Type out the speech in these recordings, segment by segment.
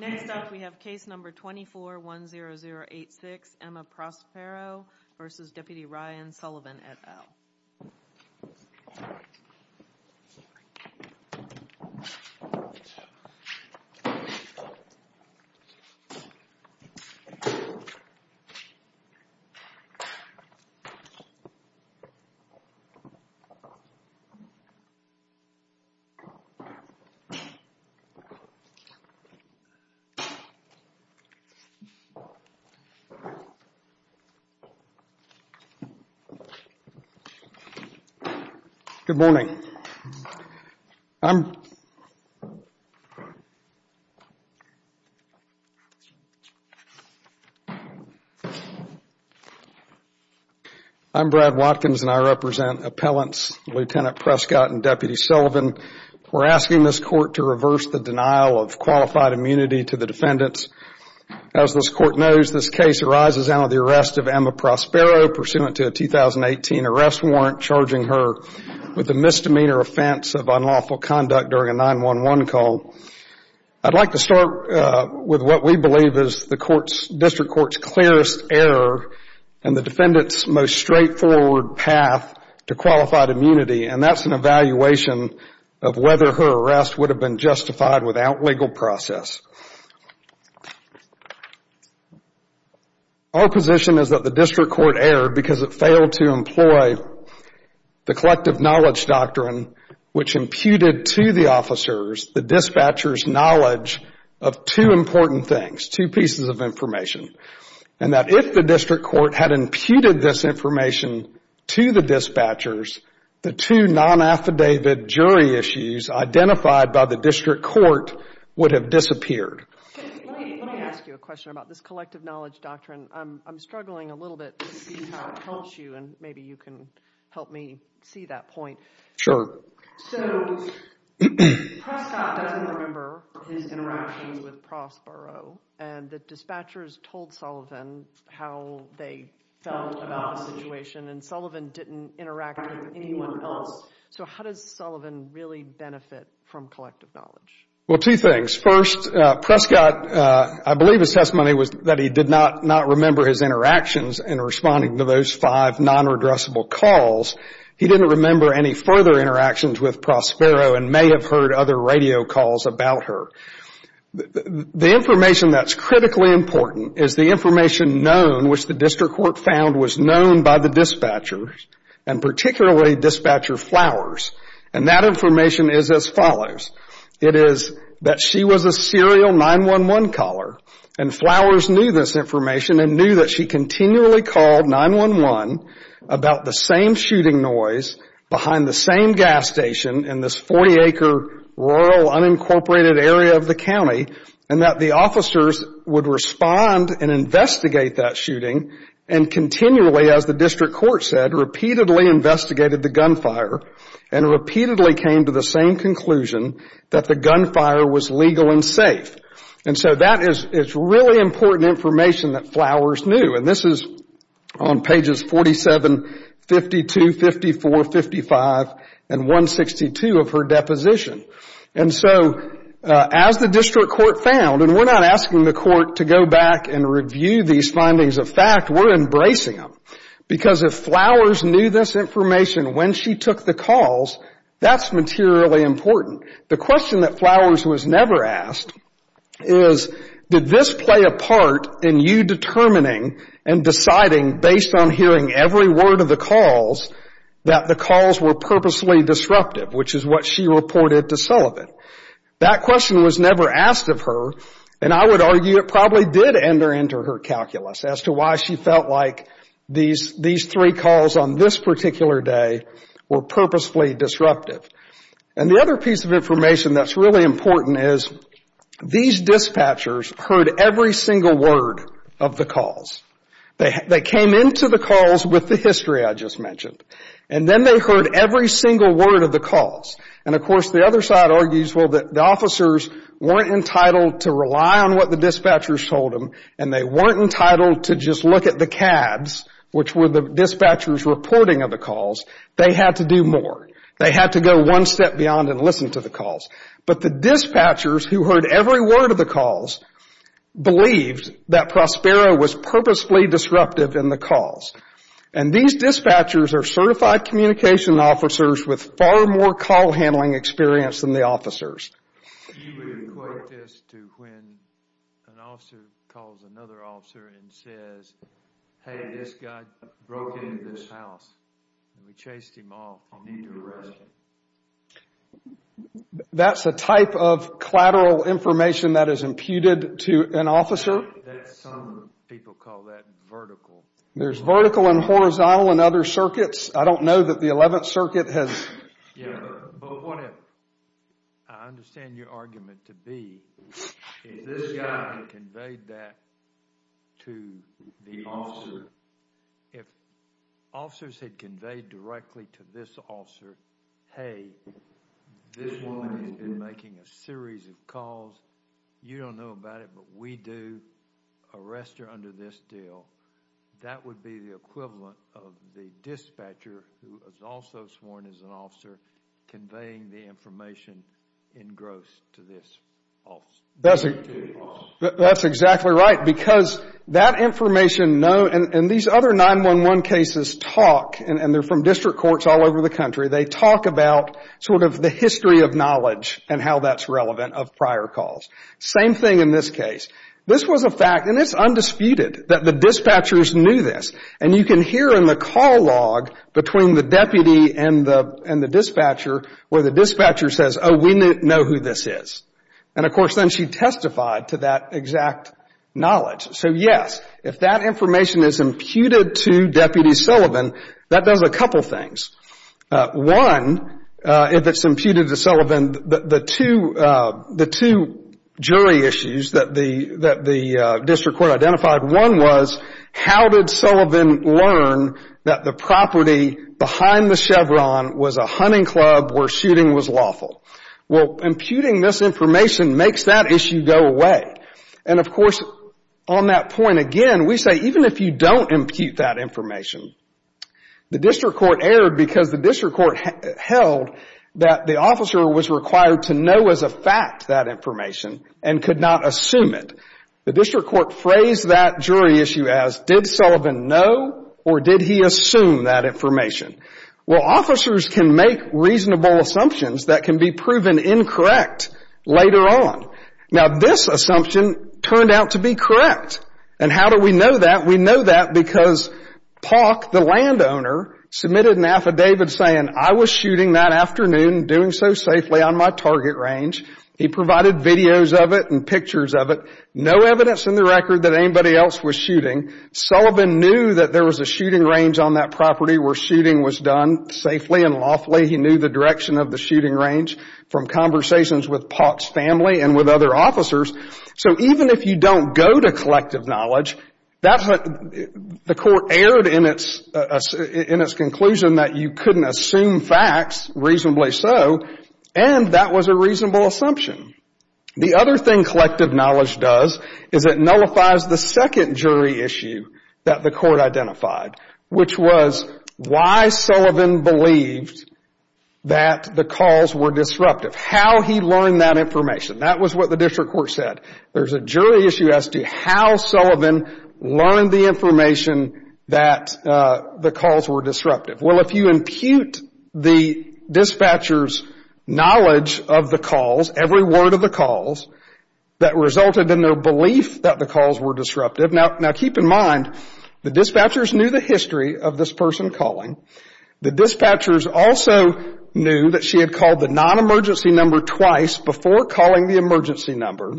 Next up we have case number 2410086, Emma Prospero v. Deputy Ryan Sullivan et al. Emma Prospero v. Deputy Ryan Sullivan et al. Brad Watkins Good morning. I'm Brad Watkins and I represent appellants Lieutenant Prescott and Deputy Sullivan. We're asking this court to reverse the denial of qualified immunity to the defendants. As this court knows, this case arises out of the arrest of Emma Prospero pursuant to a 2018 arrest warrant charging her with a misdemeanor offense of unlawful conduct during a 911 call. I'd like to start with what we believe is the District Court's clearest error in the defendant's most straightforward path to qualified immunity, and that's an evaluation of whether her arrest would have been justified without legal process. Our position is that the District Court erred because it failed to employ the collective knowledge doctrine which imputed to the officers the dispatcher's knowledge of two important things, two pieces of information, and that if the District Court had imputed this information to the dispatchers, the two nonaffidavit jury issues identified by the District Court would have disappeared. Let me ask you a question about this collective knowledge doctrine. I'm struggling a little bit to see how it helps you, and maybe you can help me see that point. So Prescott doesn't remember his interaction with Prospero, and the dispatchers told Sullivan how they felt about the situation, and Sullivan didn't interact with anyone else. So how does Sullivan really benefit from collective knowledge? Well, two things. First, Prescott, I believe his testimony was that he did not remember his interactions in responding to those five non-redressable calls. He didn't remember any further interactions with Prospero and may have heard other radio calls about her. The information that's critically important is the information known, which the District Court found was known by the dispatchers, and particularly Dispatcher Flowers, and that information is as follows. It is that she was a serial 911 caller, and Flowers knew this information and knew that she continually called 911 about the same shooting noise behind the same gas station in this 40-acre, rural, unincorporated area of the county, and that the officers would respond and investigate that shooting, and continually, as the District Court said, repeatedly investigated the gunfire and repeatedly came to the same conclusion that the gunfire was legal and safe. And so that is really important information that Flowers knew, and this is on pages 47, 52, 54, 55, and 162 of her deposition. And so, as the District Court found, and we're not asking the court to go back and review these findings of fact, we're embracing them, because if Flowers knew this information when she took the calls, that's materially important. The question that Flowers was never asked is, did this play a part in you determining and deciding, based on hearing every word of the calls, that the calls were purposely disruptive, which is what she reported to Sullivan. That question was never asked of her, and I would argue it probably did enter into her calculus as to why she felt like these three calls on this particular day were purposefully disruptive. And the other piece of information that's really important is, these dispatchers heard every single word of the calls. They came into the calls with the history I just mentioned, and then they heard every single word of the calls. And of course, the other side argues, well, the officers weren't entitled to rely on what the dispatchers told them, and they weren't entitled to just look at the CADs, which were the dispatchers' reporting of the calls. They had to do more. They had to go one step beyond and listen to the calls. But the dispatchers who heard every word of the calls believed that Prospero was purposefully disruptive in the calls. And these dispatchers are certified communication officers with far more call handling experience than the officers. She would equate this to when an officer calls another officer and says, hey, this guy broke into this house, and we chased him off, I'll need you to arrest him. That's a type of collateral information that is imputed to an officer. Some people call that vertical. There's vertical and horizontal in other circuits. I don't know that the 11th Circuit has... Yeah, but whatever. I understand your argument to be, if this guy conveyed that to the officer, if the officer had conveyed directly to this officer, hey, this one has been making a series of calls, you don't know about it, but we do, arrest her under this deal, that would be the equivalent of the dispatcher who is also sworn as an officer conveying the information in gross to this officer. That's exactly right. Because that information, and these other 911 cases talk, and they're from district courts all over the country, they talk about sort of the history of knowledge and how that's relevant of prior calls. Same thing in this case. This was a fact, and it's undisputed, that the dispatchers knew this. And you can hear in the call log between the deputy and the dispatcher where the dispatcher says, oh, we know who this is. And of course, then she testified to that exact knowledge. So, yes, if that information is imputed to Deputy Sullivan, that does a couple things. One, if it's imputed to Sullivan, the two jury issues that the district court identified, one was, how did Sullivan learn that the property behind the Chevron was a hunting club where shooting was lawful? Well, imputing this information makes that issue go away. And of course, on that point again, we say even if you don't impute that information, the district court erred because the district court held that the officer was required to know as a fact that information and could not assume it. The district court phrased that jury issue as, did Sullivan know or did he assume that information? Well, officers can make reasonable assumptions that can be proven incorrect later on. Now, this assumption turned out to be correct. And how do we know that? We know that because Pauk, the landowner, submitted an affidavit saying, I was shooting that afternoon, doing so safely on my target range. He provided videos of it and pictures of it. No evidence in the record that anybody else was shooting. Sullivan knew that there was a shooting range on that property where shooting was done safely and lawfully. He knew the direction of the shooting range from conversations with Pauk's family and with other officers. So even if you don't go to collective knowledge, the court erred in its conclusion that you couldn't assume facts, reasonably so, and that was a reasonable assumption. The other thing collective knowledge does is it nullifies the second jury issue that the court identified, which was why Sullivan believed that the calls were disruptive. How he learned that information. That was what the district court said. There's a jury issue as to how Sullivan learned the information that the calls were disruptive. Well, if you impute the dispatcher's knowledge of the calls, every word of the calls, that resulted in their belief that the calls were disruptive. Now, keep in mind, the dispatchers knew the history of this person calling. The dispatchers also knew that she had called the non-emergency number twice before calling the emergency number.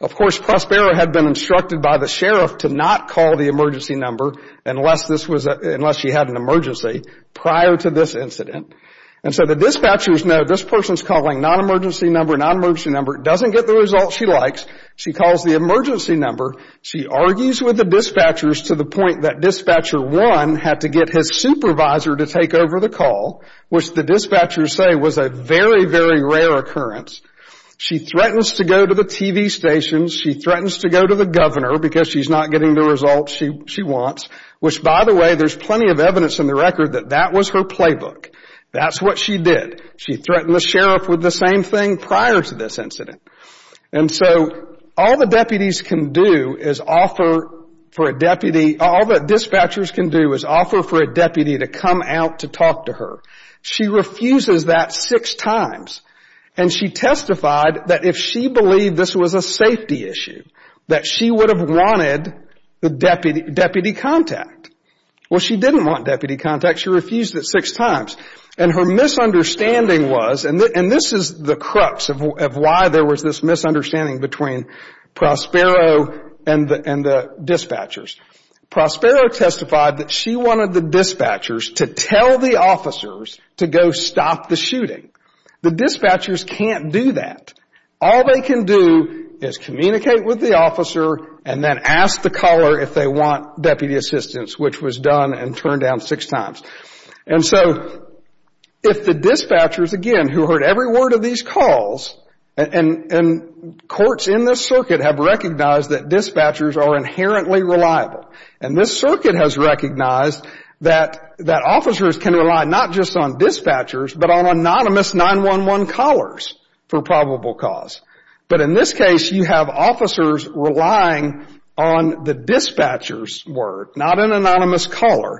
Of course, Prospero had been instructed by the sheriff to not call the emergency number unless she had an emergency prior to this incident. And so the dispatchers know this person's calling non-emergency number, non-emergency number, doesn't get the result she likes. She calls the emergency number. She argues with the dispatchers to the point that dispatcher one had to get his supervisor to take over the call, which the dispatchers say was a very, very rare occurrence. She threatens to go to the TV stations. She threatens to go to the governor because she's not getting the results she wants, which, by the way, there's plenty of evidence in the record that that was her playbook. That's what she did. She threatened the sheriff with the same thing prior to this incident. And so all the deputies can do is offer for a deputy, all that dispatchers can do is offer for a deputy to come out to talk to her. She refuses that six times. And she testified that if she believed this was a safety issue, that she would have wanted the deputy contact. Well, she didn't want deputy contact. She refused it six times. And her misunderstanding was, and this is the crux of why there was this misunderstanding between Prospero and the dispatchers. Prospero testified that she wanted the dispatchers to tell the officers to go stop the shooting. The dispatchers can't do that. All they can do is communicate with the officer and then ask the caller if they want deputy assistance, which was done and turned down six times. And so if the dispatchers, again, who heard every word of these calls, and courts in this And this circuit has recognized that officers can rely not just on dispatchers, but on anonymous 911 callers for probable cause. But in this case, you have officers relying on the dispatchers' word, not an anonymous caller.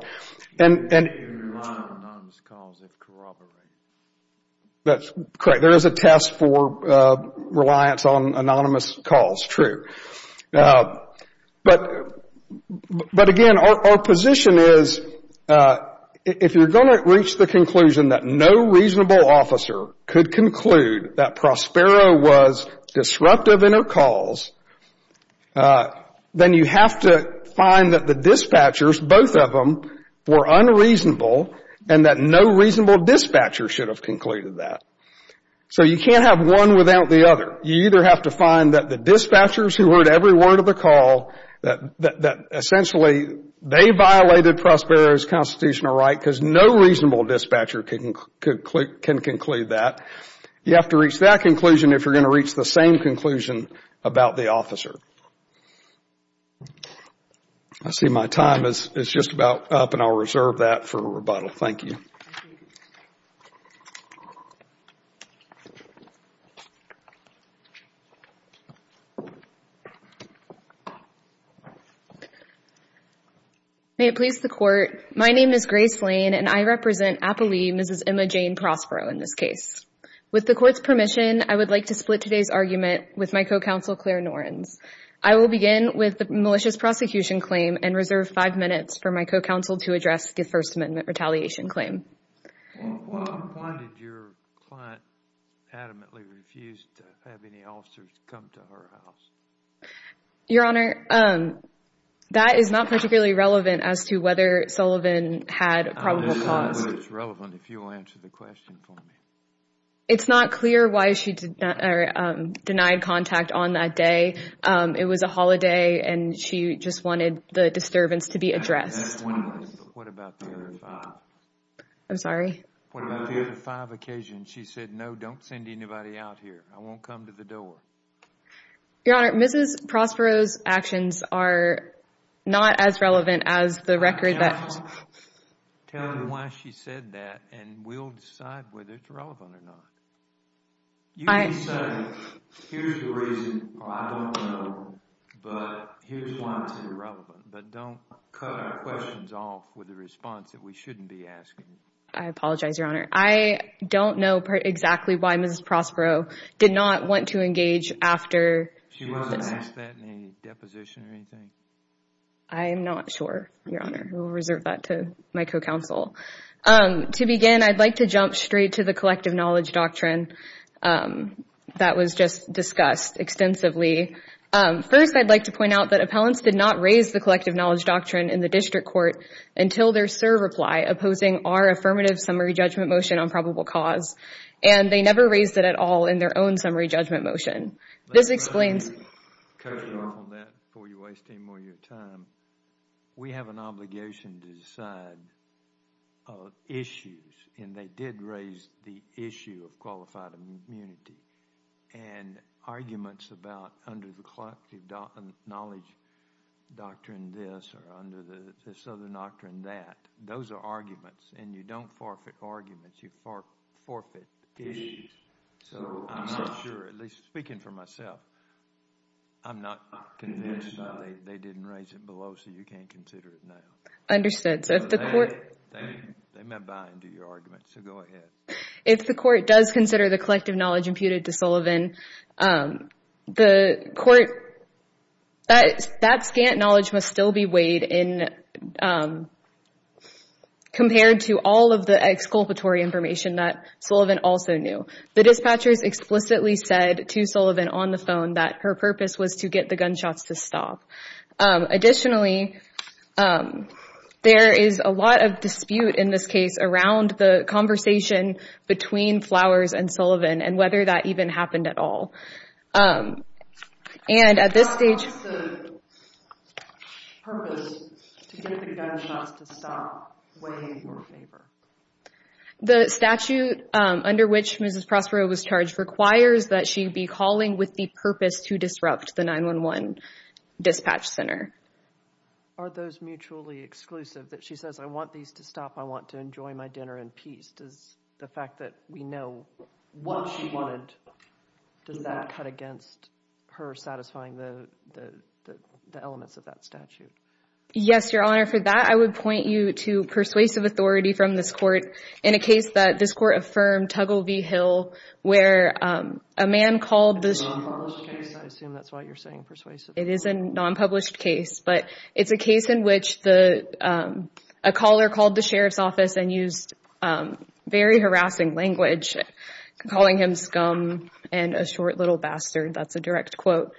And... You can rely on anonymous calls if corroborated. That's correct. There is a test for reliance on anonymous calls, true. But, again, our position is, if you're going to reach the conclusion that no reasonable officer could conclude that Prospero was disruptive in her calls, then you have to find that the dispatchers, both of them, were unreasonable and that no reasonable dispatcher should have concluded that. So you can't have one without the other. But you either have to find that the dispatchers who heard every word of the call, that essentially they violated Prospero's constitutional right, because no reasonable dispatcher can conclude that. You have to reach that conclusion if you're going to reach the same conclusion about the officer. I see my time is just about up, and I'll reserve that for rebuttal. Thank you. May it please the Court, my name is Grace Lane, and I represent, I believe, Mrs. Emma Jane Prospero in this case. With the Court's permission, I would like to split today's argument with my co-counsel, Claire Norenz. I will begin with the malicious prosecution claim and reserve five minutes for my co-counsel to address the First Amendment retaliation claim. Why did your client adamantly refuse to have any officers come to her house? Your Honor, that is not particularly relevant as to whether Sullivan had probable cause. I don't know whether it's relevant if you'll answer the question for me. It's not clear why she denied contact on that day. It was a holiday, and she just wanted the disturbance to be addressed. That's one way, but what about the other five? I'm sorry? What about the other five occasions she said, no, don't send anybody out here, I won't come to the door? Your Honor, Mrs. Prospero's actions are not as relevant as the record that... Tell me why she said that, and we'll decide whether it's relevant or not. You can say, here's the reason, or I don't know, but here's why it's irrelevant, but don't cut our questions off with a response that we shouldn't be asking. I apologize, Your Honor. I don't know exactly why Mrs. Prospero did not want to engage after... She wasn't asked that in any deposition or anything? I'm not sure, Your Honor. We'll reserve that to my co-counsel. To begin, I'd like to jump straight to the collective knowledge doctrine that was just discussed extensively. First, I'd like to point out that appellants did not raise the collective knowledge doctrine in the district court until their SIR reply opposing our affirmative summary judgment motion on probable cause, and they never raised it at all in their own summary judgment motion. This explains... I'd like to touch on that before you waste any more of your time. We have an obligation to decide issues, and they did raise the issue of qualified immunity, and arguments about under the collective knowledge doctrine this or under this other doctrine that, those are arguments, and you don't forfeit arguments, you forfeit issues. I'm not sure, at least speaking for myself, I'm not convinced that they didn't raise it below, so you can't consider it now. Understood. They may buy into your argument, so go ahead. If the court does consider the collective knowledge imputed to Sullivan, the court... That scant knowledge must still be weighed in compared to all of the exculpatory information that Sullivan also knew. The dispatchers explicitly said to Sullivan on the phone that her purpose was to get the gunshots to stop. Additionally, there is a lot of dispute in this case around the conversation between Flowers and Sullivan, and whether that even happened at all. And at this stage... What was the purpose to get the gunshots to stop weighing more favor? The statute under which Mrs. Prospero was charged requires that she be calling with the purpose to disrupt the 911 dispatch center. Are those mutually exclusive, that she says, I want these to stop, I want to enjoy my dinner in peace? Does the fact that we know what she wanted, does that cut against her satisfying the elements of that statute? Yes, Your Honor. Your Honor, for that, I would point you to persuasive authority from this court in a case that this court affirmed, Tuggle v. Hill, where a man called the... It's a non-published case. I assume that's why you're saying persuasive. It is a non-published case, but it's a case in which a caller called the sheriff's office and used very harassing language, calling him scum and a short little bastard. That's a direct quote.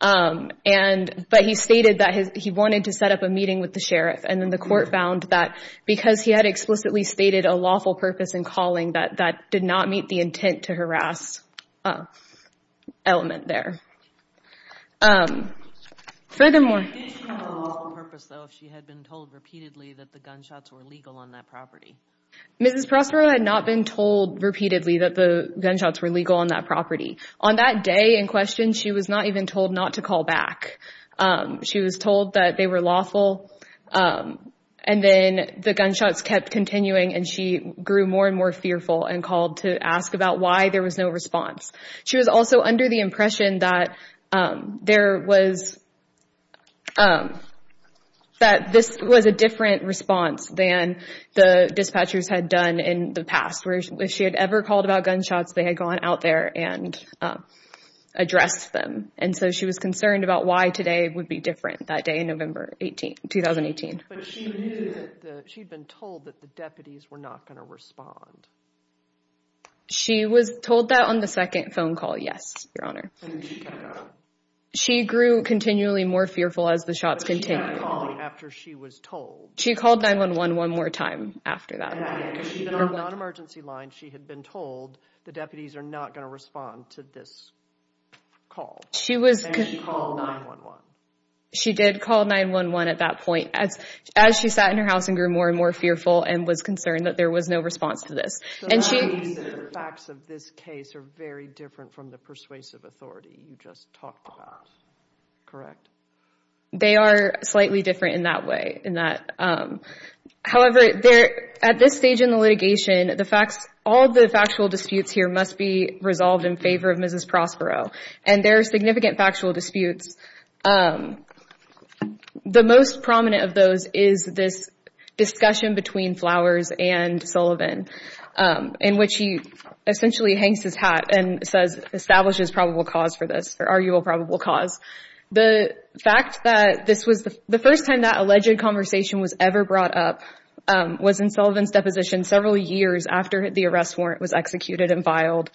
But he stated that he wanted to set up a meeting with the sheriff, and then the court found that because he had explicitly stated a lawful purpose in calling, that that did not meet the intent to harass element there. Furthermore... Didn't she have a lawful purpose, though, if she had been told repeatedly that the gunshots were legal on that property? Mrs. Prospero had not been told repeatedly that the gunshots were legal on that property. On that day in question, she was not even told not to call back. She was told that they were lawful, and then the gunshots kept continuing, and she grew more and more fearful and called to ask about why there was no response. She was also under the impression that this was a different response than the dispatchers had done in the past, where if she had ever called about gunshots, they had gone out there and addressed them. And so she was concerned about why today would be different that day in November 2018. But she knew that, she'd been told that the deputies were not going to respond. She was told that on the second phone call, yes, Your Honor. She grew continually more fearful as the shots continued. But she kept calling after she was told. She called 911 one more time after that. Even on non-emergency lines, she had been told the deputies are not going to respond to this call, and she called 911. She did call 911 at that point, as she sat in her house and grew more and more fearful and was concerned that there was no response to this. So that means the facts of this case are very different from the persuasive authority you just talked about, correct? They are slightly different in that way. However, at this stage in the litigation, all the factual disputes here must be resolved in favor of Mrs. Prospero. And there are significant factual disputes. The most prominent of those is this discussion between Flowers and Sullivan, in which he essentially hangs his hat and says, establishes probable cause for this, or arguable probable cause. The fact that this was the first time that alleged conversation was ever brought up was in Sullivan's deposition several years after the arrest warrant was executed and filed.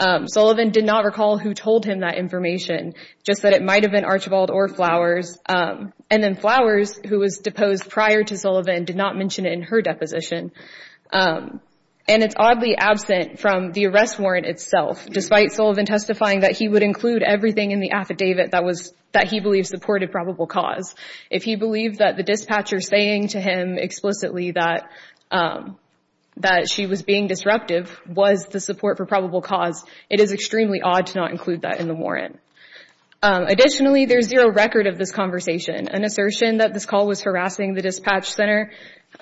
Sullivan did not recall who told him that information, just that it might have been Archibald or Flowers. And then Flowers, who was deposed prior to Sullivan, did not mention it in her deposition. And it's oddly absent from the arrest warrant itself, despite Sullivan testifying that he would include everything in the affidavit that he believed supported probable cause. If he believed that the dispatcher saying to him explicitly that she was being disruptive was the support for probable cause, it is extremely odd to not include that in the warrant. Additionally, there is zero record of this conversation. An assertion that this call was harassing the dispatch center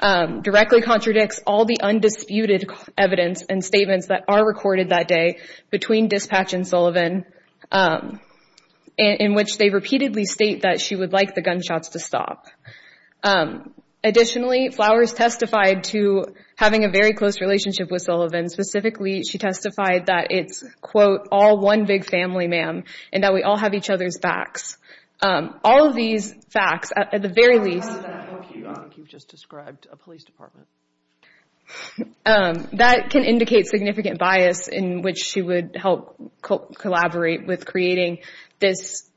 directly contradicts all the undisputed evidence and statements that are recorded that day between dispatch and Sullivan, in which they repeatedly state that she would like the gunshots to stop. Additionally, Flowers testified to having a very close relationship with Sullivan. Specifically, she testified that it's, quote, all one big family, ma'am, and that we all have each other's backs. All of these facts, at the very least, that can indicate significant bias in which she would help collaborate with creating this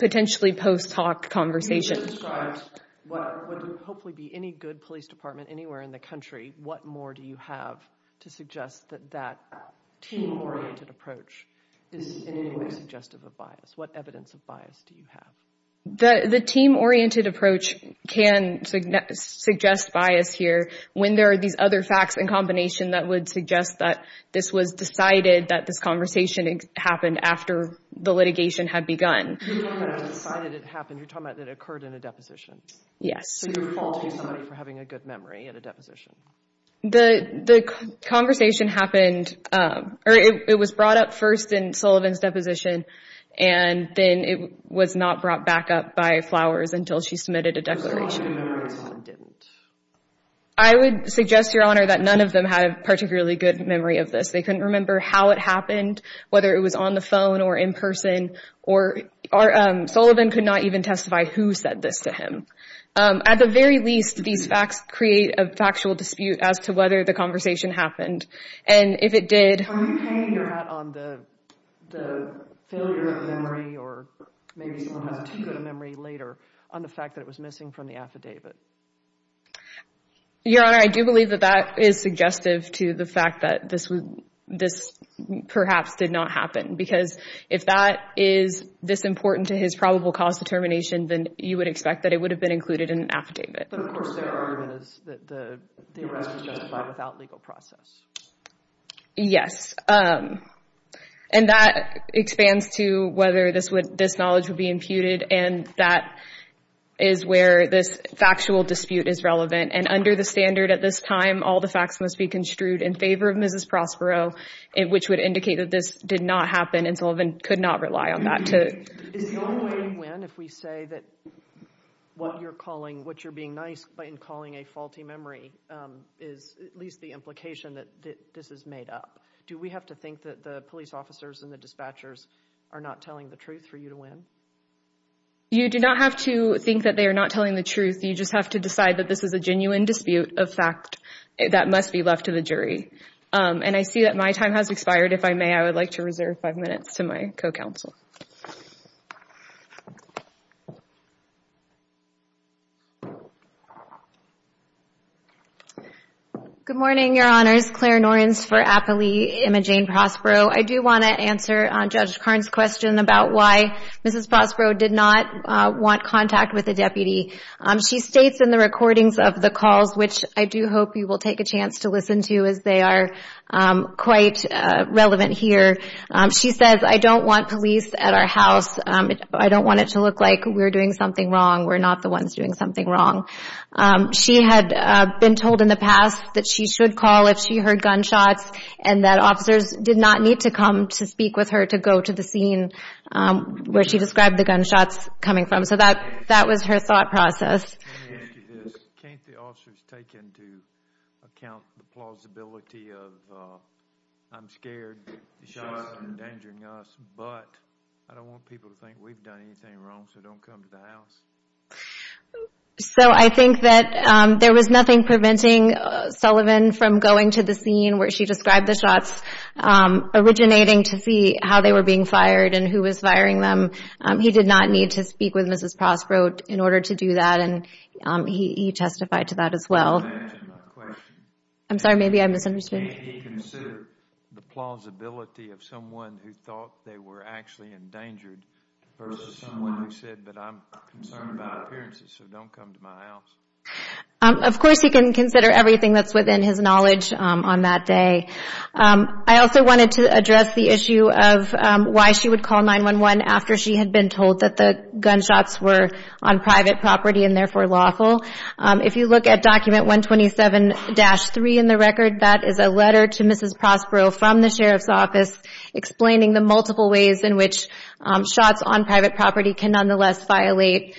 potentially post-talk conversation. You just described what would hopefully be any good police department anywhere in the country. What more do you have to suggest that that team-oriented approach is in any way suggestive of bias? What evidence of bias do you have? The team-oriented approach can suggest bias here. When there are these other facts in combination that would suggest that this was decided, that this conversation happened after the litigation had begun. When it was decided it happened, you're talking about it occurred in a deposition. Yes. So you're faulting somebody for having a good memory at a deposition. The conversation happened, or it was brought up first in Sullivan's deposition, and then it was not brought back up by Flowers until she submitted a declaration. I would suggest, Your Honor, that none of them had a particularly good memory of this. They couldn't remember how it happened, whether it was on the phone or in person, or Sullivan could not even testify who said this to him. At the very least, these facts create a factual dispute as to whether the conversation happened, and if it did... Are you hanging your hat on the failure of memory, or maybe someone has too good a memory later, on the fact that it was missing from the affidavit? Your Honor, I do believe that that is suggestive to the fact that this perhaps did not happen, because if that is this important to his probable cause determination, then you would expect that it would have been included in an affidavit. But of course, their argument is that the arrest was justified without legal process. Yes. And that expands to whether this knowledge would be imputed, and that is where this factual dispute is relevant, and under the standard at this time, all the facts must be construed in favor of Mrs. Prospero, which would indicate that this did not happen, and Sullivan could not rely on that. Is the only way to win if we say that what you're being nice in calling a faulty memory is at least the implication that this is made up? Do we have to think that the police officers and the dispatchers are not telling the truth for you to win? You do not have to think that they are not telling the truth. You just have to decide that this is a genuine dispute of fact that must be left to the jury. And I see that my time has expired. If I may, I would like to reserve five minutes to my co-counsel. Good morning, Your Honors. Claire Norenz for Appley Imaging Prospero. I do want to answer Judge Karn's question about why Mrs. Prospero did not want contact with the deputy. She states in the recordings of the calls, which I do hope you will take a chance to listen to as they are quite relevant here, she says, I don't want police at our house. I don't want it to look like we're doing something wrong. We're not the ones doing something wrong. She had been told in the past that she should call if she heard gunshots and that officers did not need to come to speak with her to go to the scene where she described the gunshots coming from. So that was her thought process. Let me ask you this. Can't the officers take into account the plausibility of, I'm scared the shots are endangering us, but I don't want people to think we've done anything wrong, so don't come to the house? So I think that there was nothing preventing Sullivan from going to the scene where she described the shots originating to see how they were being fired and who was firing them. He did not need to speak with Mrs. Prospero in order to do that and he testified to that as well. I'm sorry, maybe I misunderstood. Can't he consider the plausibility of someone who thought they were actually endangered versus someone who said, but I'm concerned about appearances, so don't come to my house? Of course he can consider everything that's within his knowledge on that day. I also wanted to address the issue of why she would call 911 after she had been told that the gunshots were on private property and therefore lawful. If you look at document 127-3 in the record, that is a letter to Mrs. Prospero from the Sheriff's Office explaining the multiple ways in which shots on private property can nonetheless violate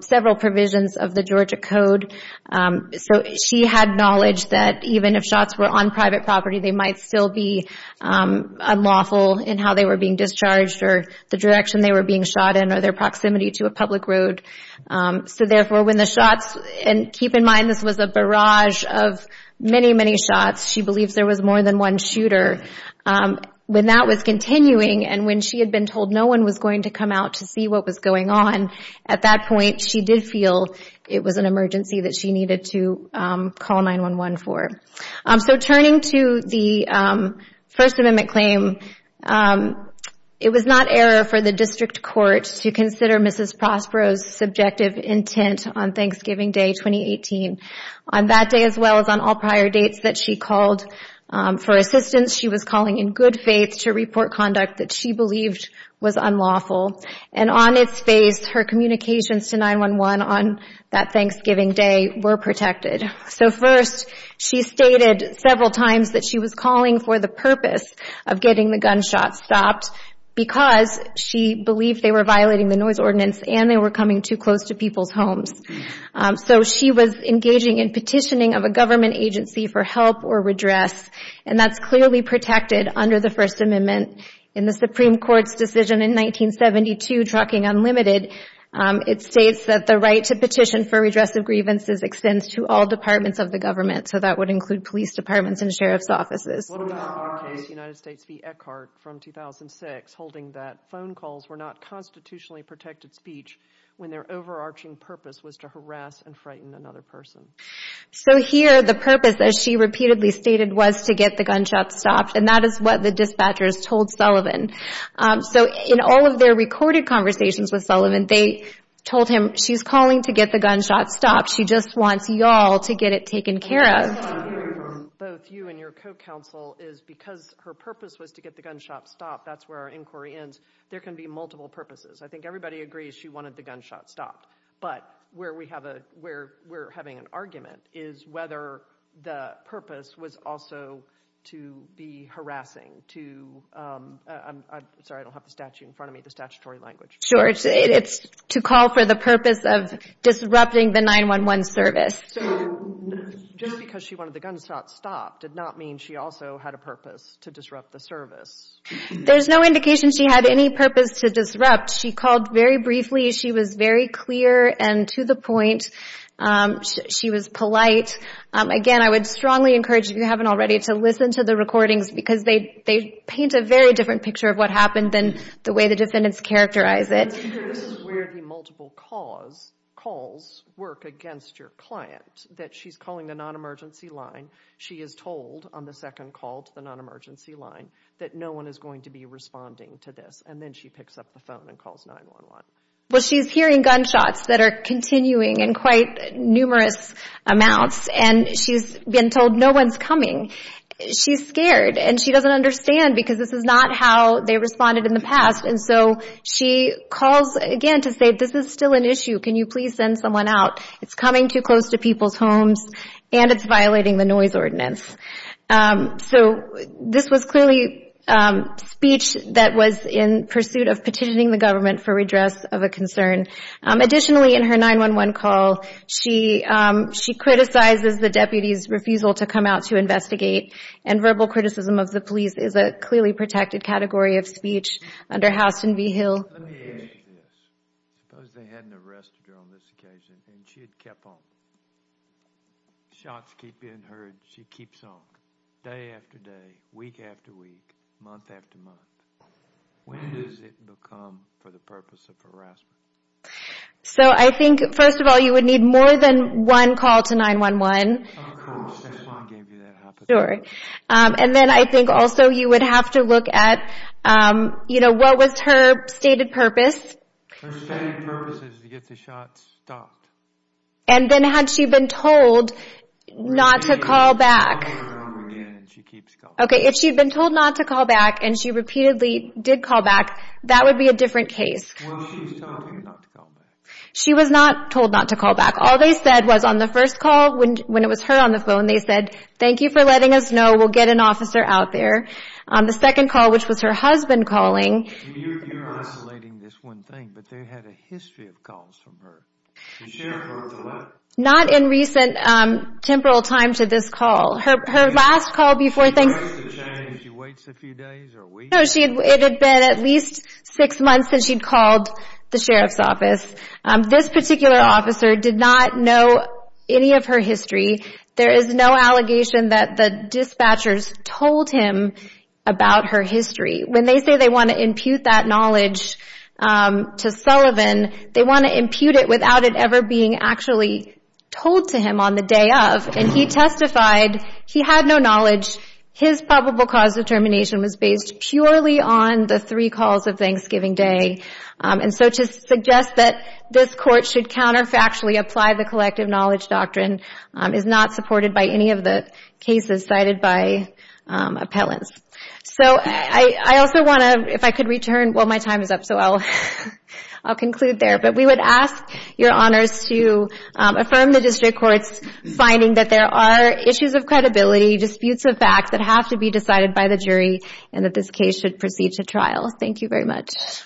several provisions of the Georgia Code. So she had knowledge that even if shots were on private property, they might still be unlawful in how they were being discharged or the direction they were being shot in or their proximity to a public road. So therefore when the shots, and keep in mind this was a barrage of many, many shots, she believes there was more than one shooter, when that was continuing and when she had been told no one was going to come out to see what was going on, at that point she did feel it was an emergency that she needed to call 911 for. So turning to the First Amendment claim, it was not error for the District Court to consider Mrs. Prospero's subjective intent on Thanksgiving Day 2018. On that day as well as on all prior dates that she called for assistance, she was calling in good faith to report conduct that she believed was unlawful. And on its face, her communications to 911 on that Thanksgiving Day were protected. So first, she stated several times that she was calling for the purpose of getting the gunshots stopped because she believed they were violating the noise ordinance and they were coming too close to people's homes. So she was engaging in petitioning of a government agency for help or redress, and that's clearly protected under the First Amendment. In the Supreme Court's decision in 1972, Trucking Unlimited, it states that the right to petition for redress of grievances extends to all departments of the government, so that would include police departments and sheriff's offices. What about the case United States v. Eckhart from 2006, holding that phone calls were not constitutionally protected speech when their overarching purpose was to harass and frighten another person? So here, the purpose, as she repeatedly stated, was to get the gunshots stopped, and that is what the dispatchers told Sullivan. So in all of their recorded conversations with Sullivan, they told him, she's calling to get the gunshots stopped. She just wants y'all to get it taken care of. What I'm hearing from both you and your co-counsel is because her purpose was to get the gunshots stopped, that's where our inquiry ends, there can be multiple purposes. I think everybody agrees she wanted the gunshots stopped. But where we're having an argument is whether the purpose was also to be harassing, to, I'm sorry, I don't have the statute in front of me, the statutory language. Sure, it's to call for the purpose of disrupting the 911 service. So just because she wanted the gunshots stopped did not mean she also had a purpose to disrupt the service. There's no indication she had any purpose to disrupt. She called very briefly. She was very clear and to the point. She was polite. Again, I would strongly encourage, if you haven't already, to listen to the recordings because they paint a very different picture of what happened than the way the defendants characterize it. This is where the multiple calls work against your client, that she's calling the non-emergency line, she is told on the second call to the non-emergency line that no one is going to be responding to this and then she picks up the phone and calls 911. Well, she's hearing gunshots that are continuing in quite numerous amounts and she's been told no one's coming. She's scared and she doesn't understand because this is not how they responded in the past and so she calls again to say this is still an issue. Can you please send someone out? It's coming too close to people's homes and it's violating the noise ordinance. So, this was clearly speech that was in pursuit of petitioning the government for redress of a concern. Additionally, in her 911 call, she criticizes the deputy's refusal to come out to investigate and verbal criticism of the police is a clearly protected category of speech under Houston v. Hill. Let me finish this. Suppose they hadn't arrested her on this occasion and she had kept home. Shots keep being heard, she keeps on, day after day, week after week, month after month. When does it become for the purpose of harassment? So, I think, first of all, you would need more than one call to 911. Of course, that's why I gave you that hypothetical. And then I think also you would have to look at, you know, what was her stated purpose. Her stated purpose is to get the shots stopped. And then had she been told not to call back. Okay, if she had been told not to call back and she repeatedly did call back, that would be a different case. She was not told not to call back. All they said was on the first call, when it was her on the phone, they said, thank you for letting us know, we'll get an officer out there. On the second call, which was her husband calling. You're isolating this one thing, but they had a history of calls from her. Not in recent temporal time to this call. Her last call before things. She waits a few days or weeks? No, it had been at least six months since she'd called the sheriff's office. This particular officer did not know any of her history. There is no allegation that the dispatchers told him about her history. When they say they want to impute that knowledge to Sullivan, they want to impute it without it ever being actually told to him on the day of. And he testified he had no knowledge. His probable cause of termination was based purely on the three calls of Thanksgiving Day. And so to suggest that this court should counterfactually apply the collective knowledge doctrine is not supported by any of the cases cited by appellants. So I also want to, if I could return. Well, my time is up, so I'll conclude there. But we would ask your honors to affirm the district court's finding that there are issues of credibility, disputes of fact that have to be decided by the jury, and that this case should proceed to trial. Thank you very much. Yes.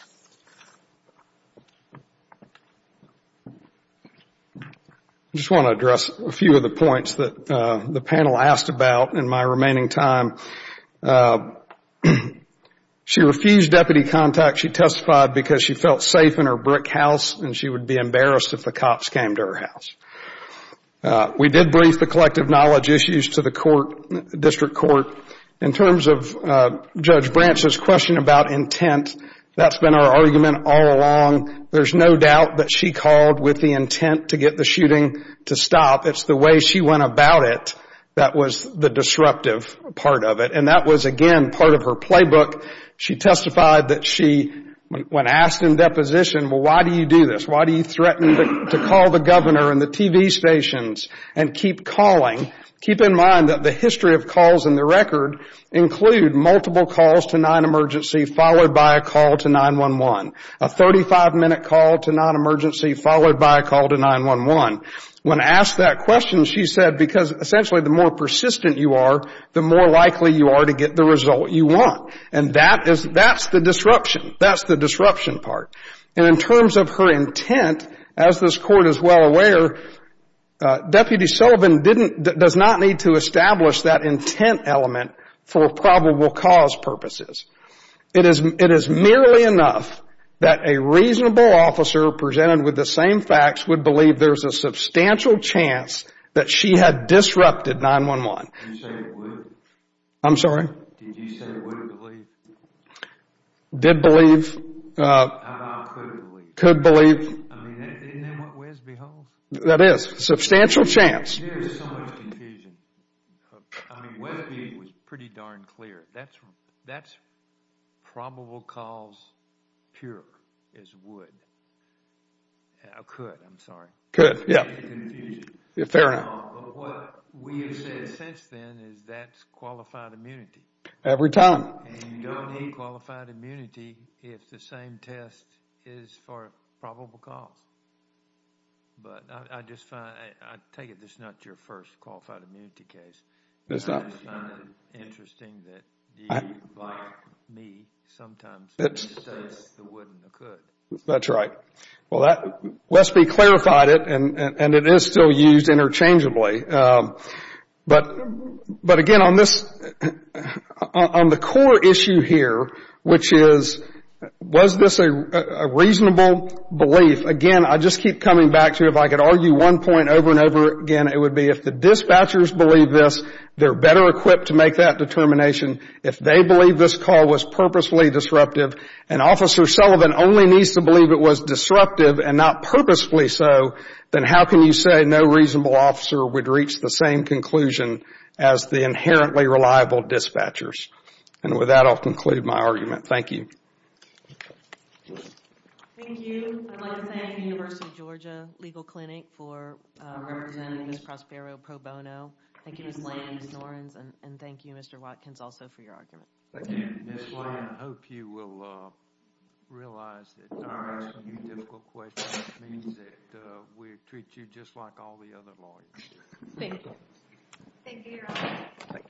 I just want to address a few of the points that the panel asked about in my remaining time. She refused deputy contact. She testified because she felt safe in her brick house and she would be embarrassed if the cops came to her house. We did brief the collective knowledge issues to the district court. In terms of Judge Branch's question about intent, that's been our argument all along. There's no doubt that she called with the intent to get the shooting to stop. It's the way she went about it that was the disruptive part of it. And that was, again, part of her playbook. She testified that she, when asked in deposition, well, why do you do this? Why do you threaten to call the governor and the TV stations and keep calling? Keep in mind that the history of calls in the record include multiple calls to nonemergency followed by a call to 911, a 35-minute call to nonemergency followed by a call to 911. When asked that question, she said because essentially the more persistent you are, the more likely you are to get the result you want. And that is the disruption. That's the disruption part. And in terms of her intent, as this court is well aware, Deputy Sullivan does not need to establish that intent element for probable cause purposes. It is merely enough that a reasonable officer presented with the same facts would believe there's a substantial chance that she had disrupted 911. I'm sorry? Did you say would believe? Did believe. How about could believe? Could believe. Isn't that what WESB holds? That is. Substantial chance. There's so much confusion. I mean, WESB was pretty darn clear. That's probable cause pure as wood. Could, I'm sorry. Could, yeah. There's so much confusion. Fair enough. What we have said since then is that's qualified immunity. Every time. And you don't need qualified immunity if the same test is for probable cause. But I just find, I take it this is not your first qualified immunity case. It's not. I just find it interesting that you, like me, sometimes misjudge the would and the could. That's right. Well, WESB clarified it, and it is still used interchangeably. But, again, on this, on the core issue here, which is was this a reasonable belief? Again, I just keep coming back to it. If I could argue one point over and over again, it would be if the dispatchers believe this, they're better equipped to make that determination. If they believe this call was purposely disruptive, and Officer Sullivan only needs to believe it was disruptive and not purposefully so, then how can you say no reasonable officer would reach the same conclusion as the inherently reliable dispatchers? And with that, I'll conclude my argument. Thank you. Thank you. I'd like to thank the University of Georgia Legal Clinic for representing Ms. Prospero pro bono. Thank you, Ms. Lyons, Ms. Norenz, and thank you, Mr. Watkins, also for your argument. Thank you. Ms. Lyons, I hope you will realize that our asking you difficult questions means that we treat you just like all the other lawyers do. Thank you. Thank you, Your Honor.